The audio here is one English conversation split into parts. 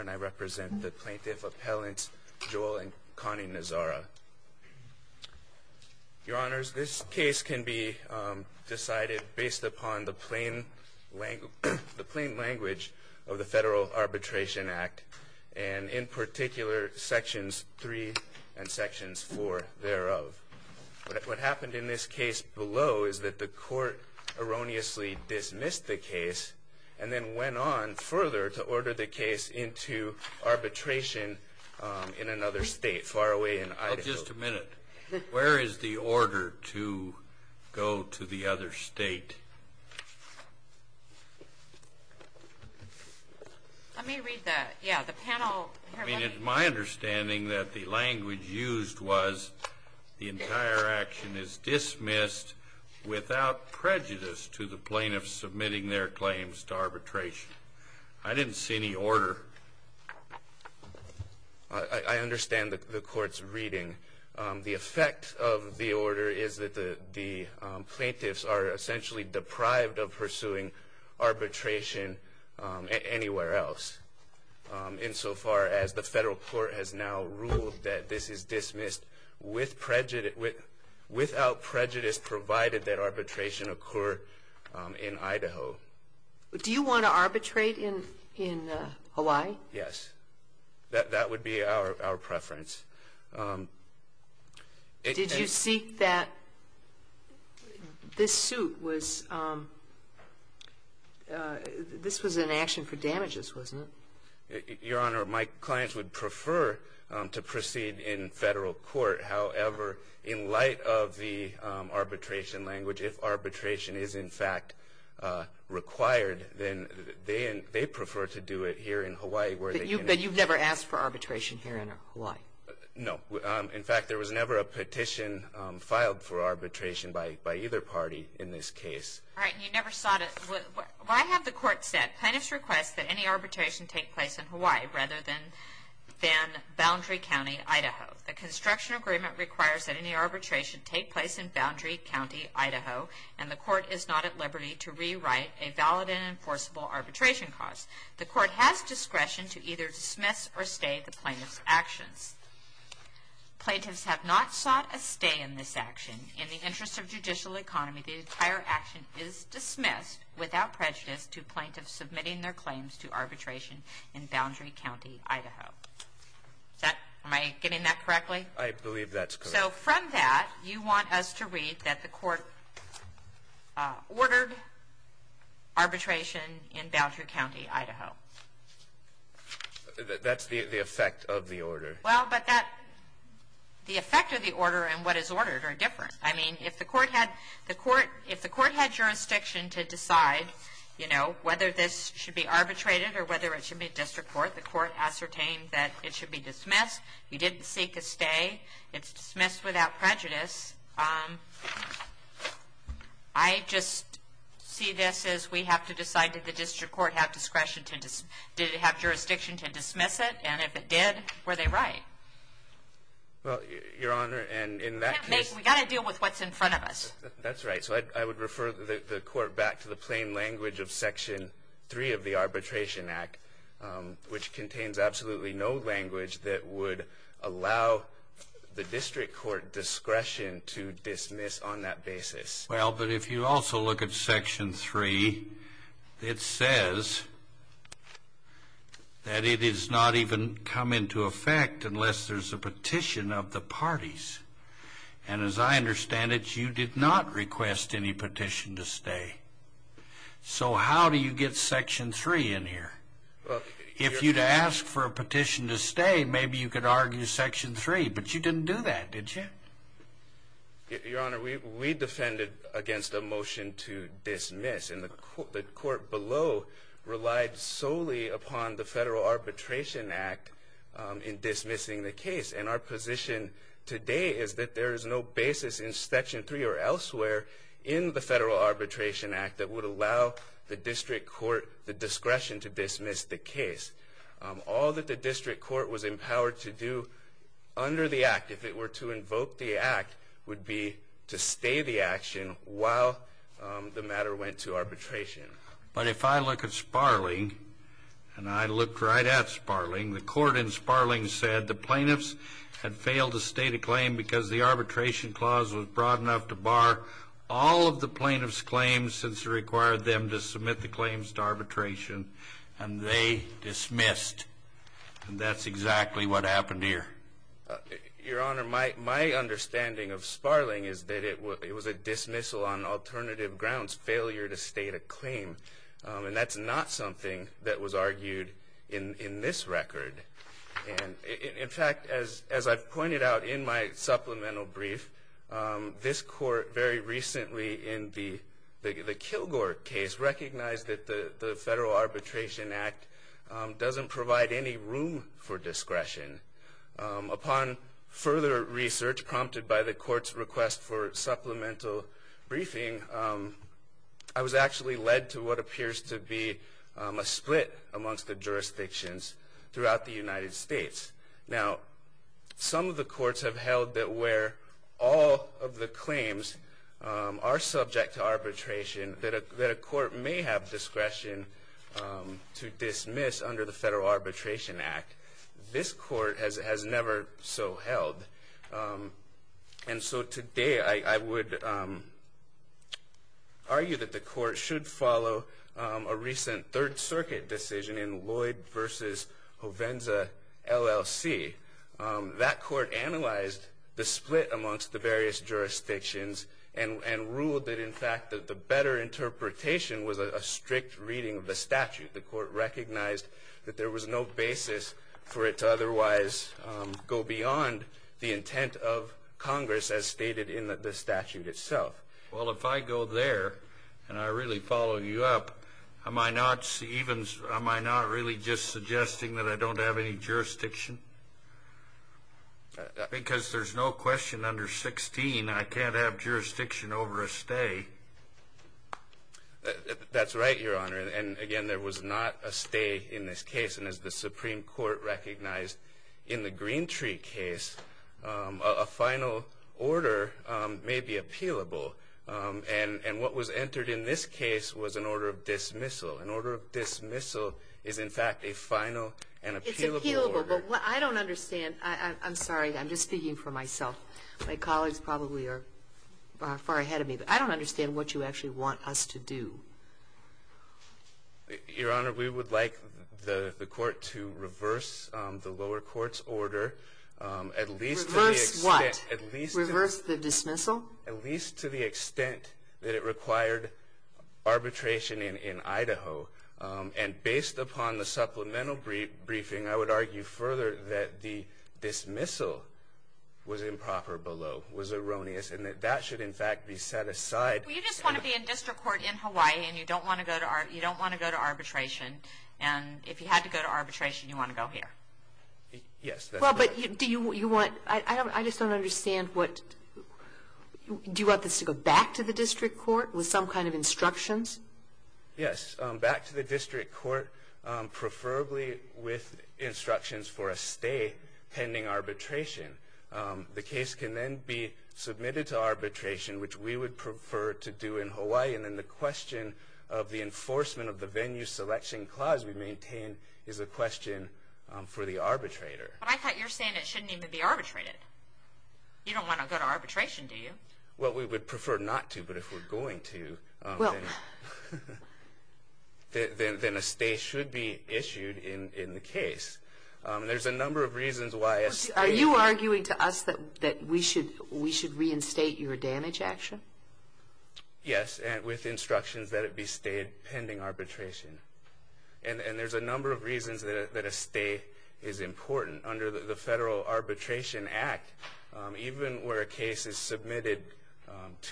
and I represent the Plaintiff Appellants Joel and Connie Nazara. Your Honors, this case can be decided based upon the plain language of the Federal Arbitration Act, and in particular Sections 3 and Sections 4 thereof. What happened in this case below is that the Court erroneously dismissed the case and then went on further to order the case into arbitration in another state far away in Idaho. Just a minute. Where is the order to go to the other state? Let me read that. Yeah, the panel. My understanding that the language used was the entire action is dismissed without prejudice to the plaintiff submitting their claims to arbitration. I didn't see any order. I understand the Court's reading. The effect of the order is that the plaintiffs are essentially deprived of pursuing arbitration anywhere else, insofar as the Federal Court has now ruled that this is dismissed without prejudice, provided that arbitration occur in Idaho. Do you want to arbitrate in Hawaii? Yes. That would be our preference. Did you seek that? This suit was an action for damages, wasn't it? Your Honor, my clients would prefer to proceed in Federal court. However, in light of the arbitration language, if arbitration is, in fact, required, then they prefer to do it here in Hawaii where they can. But you've never asked for arbitration here in Hawaii? No. In fact, there was never a petition filed for arbitration by either party in this case. All right. And you never sought it. Why have the Court said, plaintiffs request that any arbitration take place in Hawaii rather than Boundary County, Idaho? The construction agreement requires that any arbitration take place in Boundary County, Idaho, and the Court is not at liberty to rewrite a valid and enforceable arbitration clause. The Court has discretion to either dismiss or stay the plaintiff's actions. Plaintiffs have not sought a stay in this action. In the interest of judicial economy, the entire action is dismissed without prejudice to plaintiffs submitting their claims to arbitration in Boundary County, Idaho. Am I getting that correctly? I believe that's correct. So from that, you want us to read that the Court ordered arbitration in Boundary County, Idaho. That's the effect of the order. Well, but the effect of the order and what is ordered are different. I mean, if the Court had jurisdiction to decide, you know, whether this should be arbitrated or whether it should be a district court, the Court ascertained that it should be dismissed. You didn't seek a stay. It's dismissed without prejudice. I just see this as we have to decide, did the district court have jurisdiction to dismiss it? And if it did, were they right? Well, Your Honor, and in that case— We've got to deal with what's in front of us. That's right. So I would refer the Court back to the plain language of Section 3 of the Arbitration Act, which contains absolutely no language that would allow the district court discretion to dismiss on that basis. Well, but if you also look at Section 3, it says that it is not even come into effect unless there's a petition of the parties. And as I understand it, you did not request any petition to stay. So how do you get Section 3 in here? If you'd asked for a petition to stay, maybe you could argue Section 3, but you didn't do that, did you? Your Honor, we defended against a motion to dismiss, and the Court below relied solely upon the Federal Arbitration Act in dismissing the case. And our position today is that there is no basis in Section 3 or elsewhere in the Federal Arbitration Act that would allow the district court the discretion to dismiss the case. All that the district court was empowered to do under the Act, if it were to invoke the Act, would be to stay the action while the matter went to arbitration. But if I look at Sparling, and I looked right at Sparling, the Court in Sparling said the plaintiffs had failed to state a claim because the arbitration clause was broad enough to bar all of the plaintiffs' claims since it required them to submit the claims to arbitration, and they dismissed. And that's exactly what happened here. Your Honor, my understanding of Sparling is that it was a dismissal on alternative grounds, failure to state a claim, and that's not something that was argued in this record. In fact, as I've pointed out in my supplemental brief, this Court very recently in the Kilgore case recognized that the Federal Arbitration Act Upon further research prompted by the Court's request for supplemental briefing, I was actually led to what appears to be a split amongst the jurisdictions throughout the United States. Now, some of the courts have held that where all of the claims are subject to arbitration, that a court may have discretion to dismiss under the Federal Arbitration Act. This Court has never so held. And so today I would argue that the Court should follow a recent Third Circuit decision in Lloyd v. Hovenza, LLC. That Court analyzed the split amongst the various jurisdictions and ruled that, in fact, that the better interpretation was a strict reading of the statute. The Court recognized that there was no basis for it to otherwise go beyond the intent of Congress, as stated in the statute itself. Well, if I go there and I really follow you up, am I not really just suggesting that I don't have any jurisdiction? Because there's no question under 16 I can't have jurisdiction over a stay. That's right, Your Honor. And, again, there was not a stay in this case. And as the Supreme Court recognized in the Greentree case, a final order may be appealable. And what was entered in this case was an order of dismissal. An order of dismissal is, in fact, a final and appealable order. It's appealable, but I don't understand. I'm sorry. I'm just speaking for myself. My colleagues probably are far ahead of me. I don't understand what you actually want us to do. Your Honor, we would like the Court to reverse the lower court's order. Reverse what? Reverse the dismissal? At least to the extent that it required arbitration in Idaho. And based upon the supplemental briefing, I would argue further that the dismissal was improper below, was erroneous, and that that should, in fact, be set aside. Well, you just want to be in district court in Hawaii, and you don't want to go to arbitration. And if you had to go to arbitration, you want to go here. Yes, that's right. Well, but do you want to go back to the district court with some kind of instructions? Yes, back to the district court, preferably with instructions for a stay pending arbitration. The case can then be submitted to arbitration, which we would prefer to do in Hawaii, and then the question of the enforcement of the venue selection clause we maintain is a question for the arbitrator. But I thought you were saying it shouldn't even be arbitrated. You don't want to go to arbitration, do you? Well, we would prefer not to, but if we're going to, then a stay should be issued in the case. There's a number of reasons why. Are you arguing to us that we should reinstate your damage action? Yes, with instructions that it be stayed pending arbitration. And there's a number of reasons that a stay is important. Under the Federal Arbitration Act, even where a case is submitted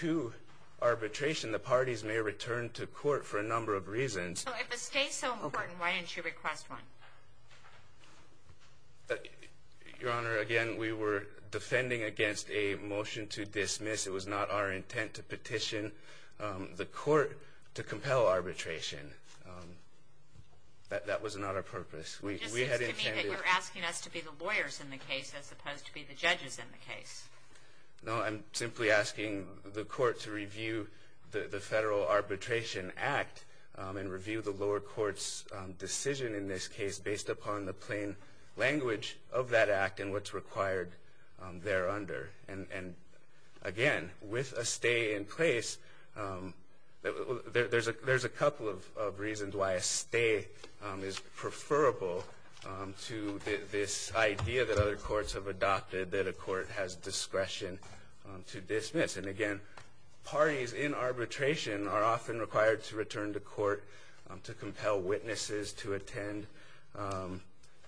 to arbitration, So if a stay is so important, why didn't you request one? Your Honor, again, we were defending against a motion to dismiss. It was not our intent to petition the court to compel arbitration. That was not our purpose. It just seems to me that you're asking us to be the lawyers in the case as opposed to be the judges in the case. No, I'm simply asking the court to review the Federal Arbitration Act and review the lower court's decision in this case based upon the plain language of that act and what's required thereunder. And, again, with a stay in place, there's a couple of reasons why a stay is preferable to this idea that other courts have adopted that a court has discretion to dismiss. And, again, parties in arbitration are often required to return to court to compel witnesses to attend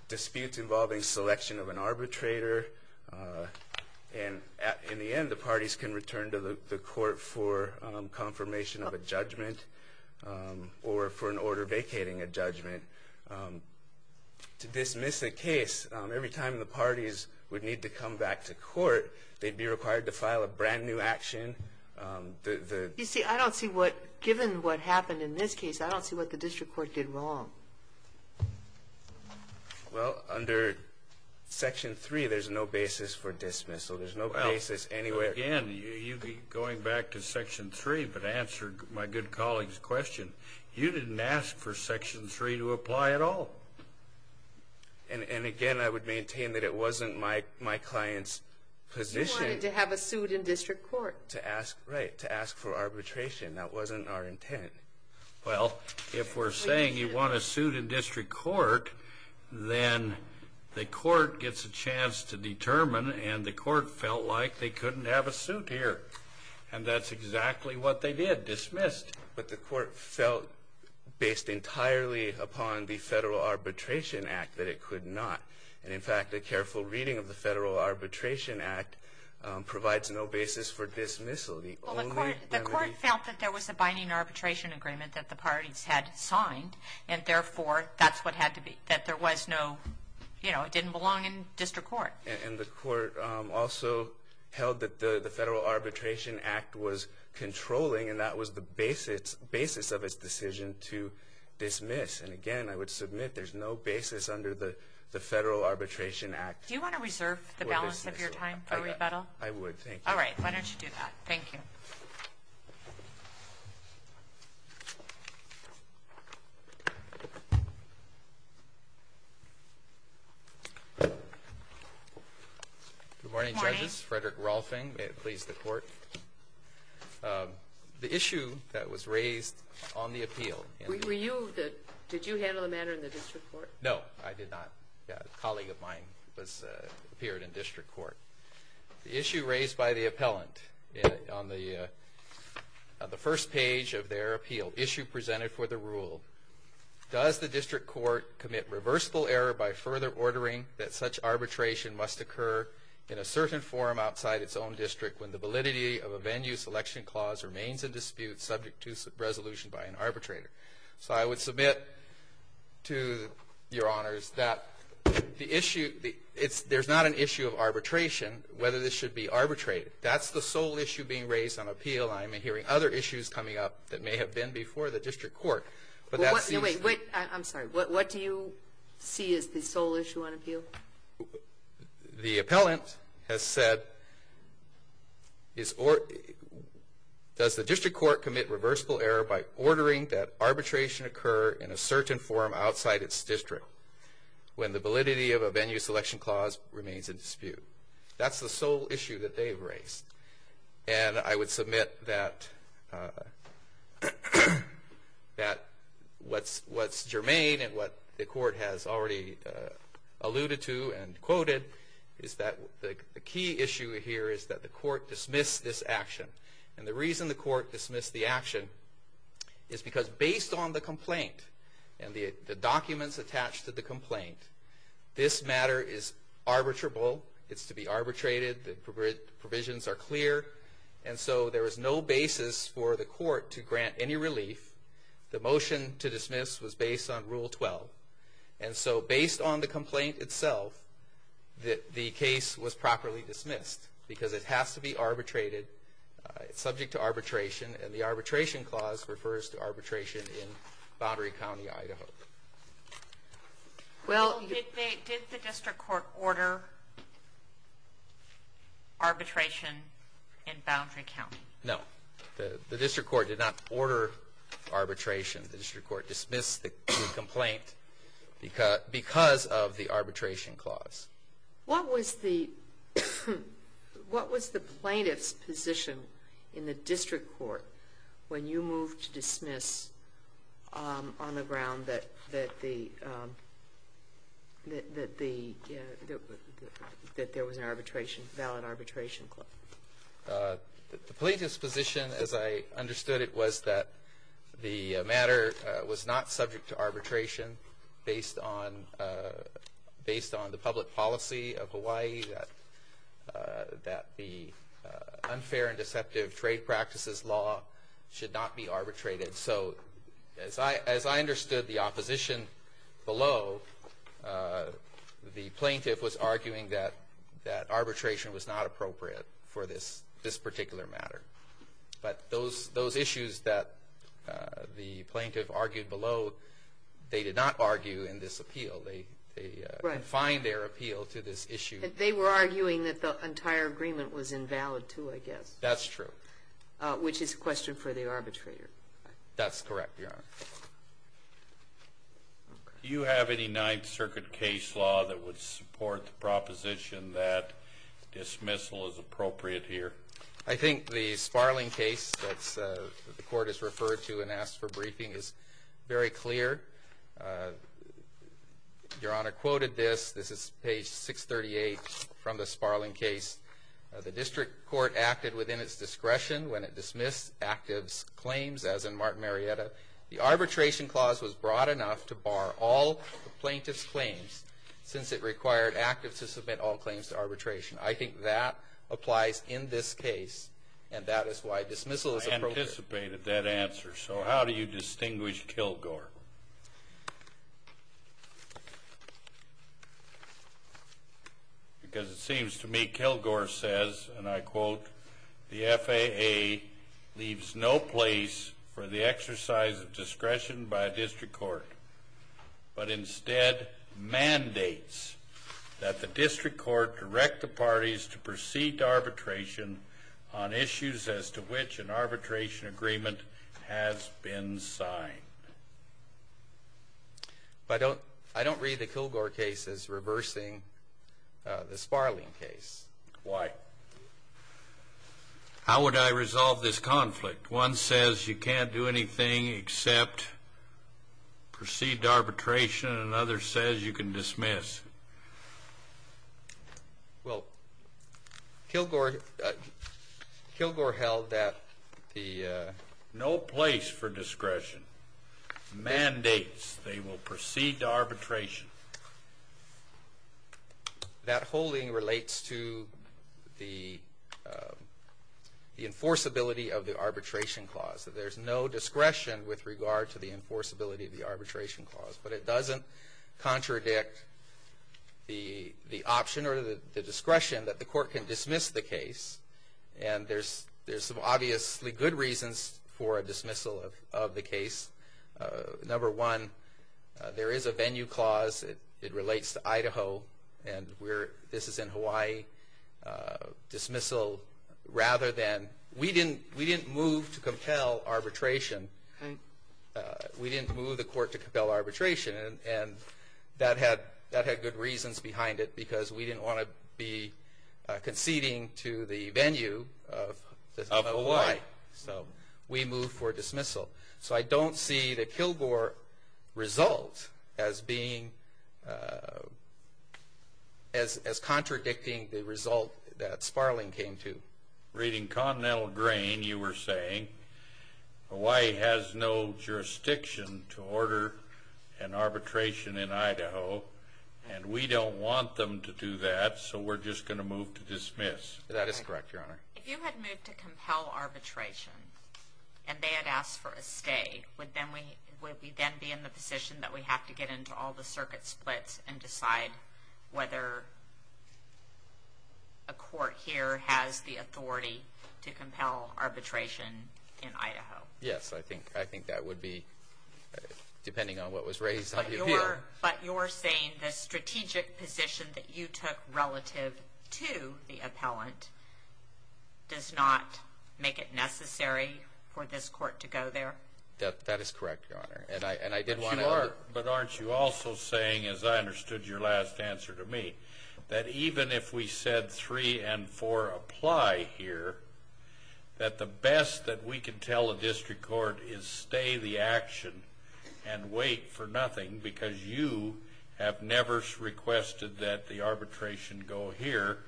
disputes involving selection of an arbitrator. And in the end, the parties can return to the court for confirmation of a judgment or for an order vacating a judgment. To dismiss a case, every time the parties would need to come back to court, they'd be required to file a brand-new action. You see, I don't see what, given what happened in this case, I don't see what the district court did wrong. Well, under Section 3, there's no basis for dismissal. There's no basis anywhere. Again, going back to Section 3, but to answer my good colleague's question, you didn't ask for Section 3 to apply at all. And, again, I would maintain that it wasn't my client's position. He wanted to have a suit in district court. Right, to ask for arbitration. That wasn't our intent. Well, if we're saying you want a suit in district court, then the court gets a chance to determine, and the court felt like they couldn't have a suit here. And that's exactly what they did, dismissed. But the court felt, based entirely upon the Federal Arbitration Act, that it could not. And, in fact, a careful reading of the Federal Arbitration Act provides no basis for dismissal. The court felt that there was a binding arbitration agreement that the parties had signed, and, therefore, that's what had to be, that there was no, you know, it didn't belong in district court. And the court also held that the Federal Arbitration Act was controlling, and that was the basis of its decision to dismiss. And, again, I would submit there's no basis under the Federal Arbitration Act for dismissal. Do you want to reserve the balance of your time for rebuttal? I would, thank you. All right, why don't you do that. Thank you. Good morning, judges. Frederick Rolfing, may it please the Court. The issue that was raised on the appeal. Were you the, did you handle the matter in the district court? No, I did not. A colleague of mine appeared in district court. The issue raised by the appellant on the first page of their appeal, issue presented for the rule. Does the district court commit reversible error by further ordering that such arbitration must occur in a certain form outside its own district when the validity of a venue selection clause remains in dispute subject to resolution by an arbitrator? So I would submit to your honors that the issue, there's not an issue of arbitration, whether this should be arbitrated. That's the sole issue being raised on appeal. I'm hearing other issues coming up that may have been before the district court. But that seems. Wait, I'm sorry. What do you see as the sole issue on appeal? The appellant has said, does the district court commit reversible error by ordering that arbitration occur in a certain form outside its district when the validity of a venue selection clause remains in dispute? That's the sole issue that they've raised. And I would submit that what's germane and what the court has already alluded to and quoted is that the key issue here is that the court dismissed this action. And the reason the court dismissed the action is because based on the complaint and the documents attached to the complaint, this matter is arbitrable. It's to be arbitrated. The provisions are clear. And so there is no basis for the court to grant any relief. The motion to dismiss was based on Rule 12. And so based on the complaint itself, the case was properly dismissed because it has to be arbitrated. It's subject to arbitration. And the arbitration clause refers to arbitration in Boundary County, Idaho. Well, did the district court order arbitration in Boundary County? No. The district court did not order arbitration. The district court dismissed the complaint because of the arbitration clause. What was the plaintiff's position in the district court when you moved to dismiss on the ground that there was an arbitration, valid arbitration clause? The plaintiff's position, as I understood it, was that the matter was not subject to arbitration based on the public policy of Hawaii, that the unfair and deceptive trade practices law should not be arbitrated. So as I understood the opposition below, the plaintiff was arguing that arbitration was not appropriate for this particular matter. But those issues that the plaintiff argued below, they did not argue in this appeal. They confined their appeal to this issue. They were arguing that the entire agreement was invalid, too, I guess. That's true. Which is a question for the arbitrator. That's correct, Your Honor. Do you have any Ninth Circuit case law that would support the proposition that dismissal is appropriate here? I think the Sparling case that the court has referred to and asked for briefing is very clear. Your Honor quoted this. This is page 638 from the Sparling case. The district court acted within its discretion when it dismissed active's claims, as in Martin Marietta. The arbitration clause was broad enough to bar all the plaintiff's claims since it required active to submit all claims to arbitration. I think that applies in this case, and that is why dismissal is appropriate. I anticipated that answer. So how do you distinguish Kilgore? Because it seems to me Kilgore says, and I quote, the FAA leaves no place for the exercise of discretion by a district court, but instead mandates that the district court direct the parties to proceed to arbitration on issues as to which an arbitration agreement has been signed. I don't read the Kilgore case as reversing the Sparling case. Why? How would I resolve this conflict? One says you can't do anything except proceed to arbitration, and another says you can dismiss. Well, Kilgore held that the no place for discretion mandates they will proceed to arbitration. That holding relates to the enforceability of the arbitration clause. There's no discretion with regard to the enforceability of the arbitration clause, but it doesn't contradict the option or the discretion that the court can dismiss the case, and there's some obviously good reasons for a dismissal of the case. Number one, there is a venue clause. It relates to Idaho, and this is in Hawaii. Dismissal rather than we didn't move to compel arbitration. We didn't move the court to compel arbitration, and that had good reasons behind it because we didn't want to be conceding to the venue of Hawaii. So we moved for dismissal. So I don't see the Kilgore result as contradicting the result that Sparling came to. Reading Continental Grain, you were saying Hawaii has no jurisdiction to order an arbitration in Idaho, and we don't want them to do that, so we're just going to move to dismiss. That is correct, Your Honor. If you had moved to compel arbitration and they had asked for a stay, would we then be in the position that we have to get into all the circuit splits and decide whether a court here has the authority to compel arbitration in Idaho? Yes, I think that would be, depending on what was raised on the appeal. But you're saying the strategic position that you took relative to the appellant does not make it necessary for this court to go there? That is correct, Your Honor. But aren't you also saying, as I understood your last answer to me, that even if we said three and four apply here, that the best that we can tell a district court is stay the action and wait for nothing because you have never requested that the arbitration go here,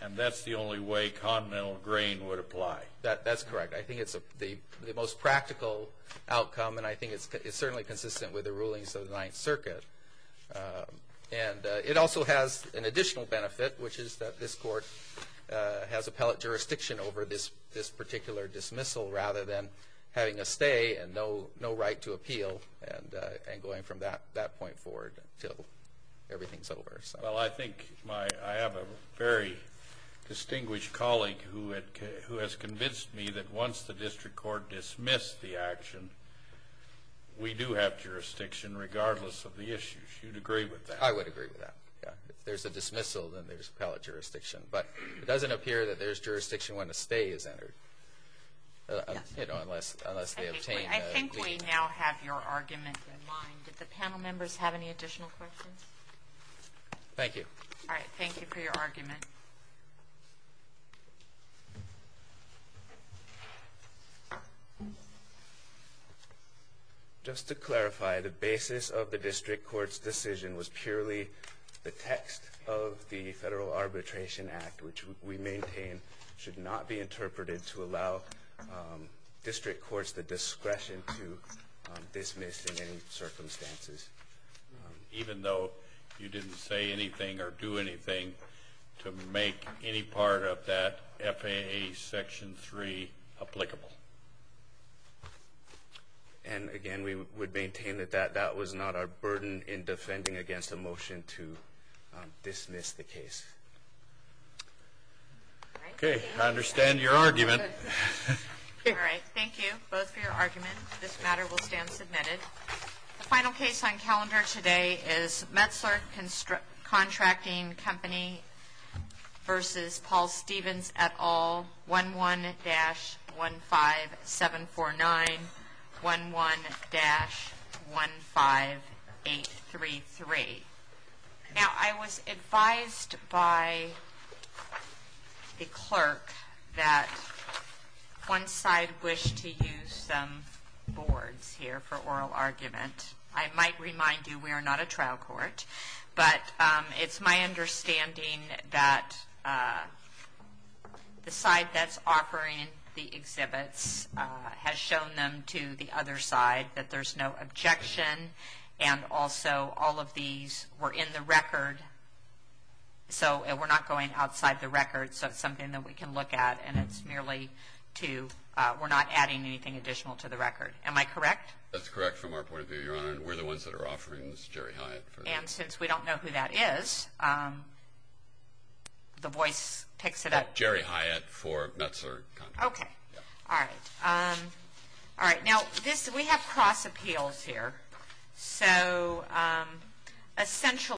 and that's the only way Continental Grain would apply? That's correct. I think it's the most practical outcome, and I think it's certainly consistent with the rulings of the Ninth Circuit. And it also has an additional benefit, which is that this court has appellate jurisdiction over this particular dismissal rather than having a stay and no right to appeal and going from that point forward until everything's over. Well, I think I have a very distinguished colleague who has convinced me that once the district court dismissed the action, we do have jurisdiction regardless of the issues. You'd agree with that? I would agree with that. If there's a dismissal, then there's appellate jurisdiction. But it doesn't appear that there's jurisdiction when a stay is entered unless they obtain that. I think we now have your argument in line. Did the panel members have any additional questions? Thank you. All right. Thank you for your argument. Just to clarify, the basis of the district court's decision was purely the text of the Federal Arbitration Act, which we maintain should not be interpreted to allow district courts the discretion to dismiss in any circumstances. Even though you didn't say anything or do anything to make any part of that FAA Section 3 applicable. And again, we would maintain that that was not our burden in defending against a motion to dismiss the case. Okay. I understand your argument. All right. Thank you both for your argument. This matter will stand submitted. The final case on calendar today is Metzler Contracting Company versus Paul Stevens et al., 11-15749, 11-15833. Now, I was advised by the clerk that one side wished to use some boards here for oral argument. I might remind you we are not a trial court. But it's my understanding that the side that's offering the exhibits has shown them to the other side, that there's no objection, and also all of these were in the record. So we're not going outside the record. So it's something that we can look at, and we're not adding anything additional to the record. Am I correct? We're the ones that are offering this, Jerry Hyatt. And since we don't know who that is, the voice picks it up. Jerry Hyatt for Metzler Contracting. Okay. All right. All right. Now, we have cross appeals here. So essential.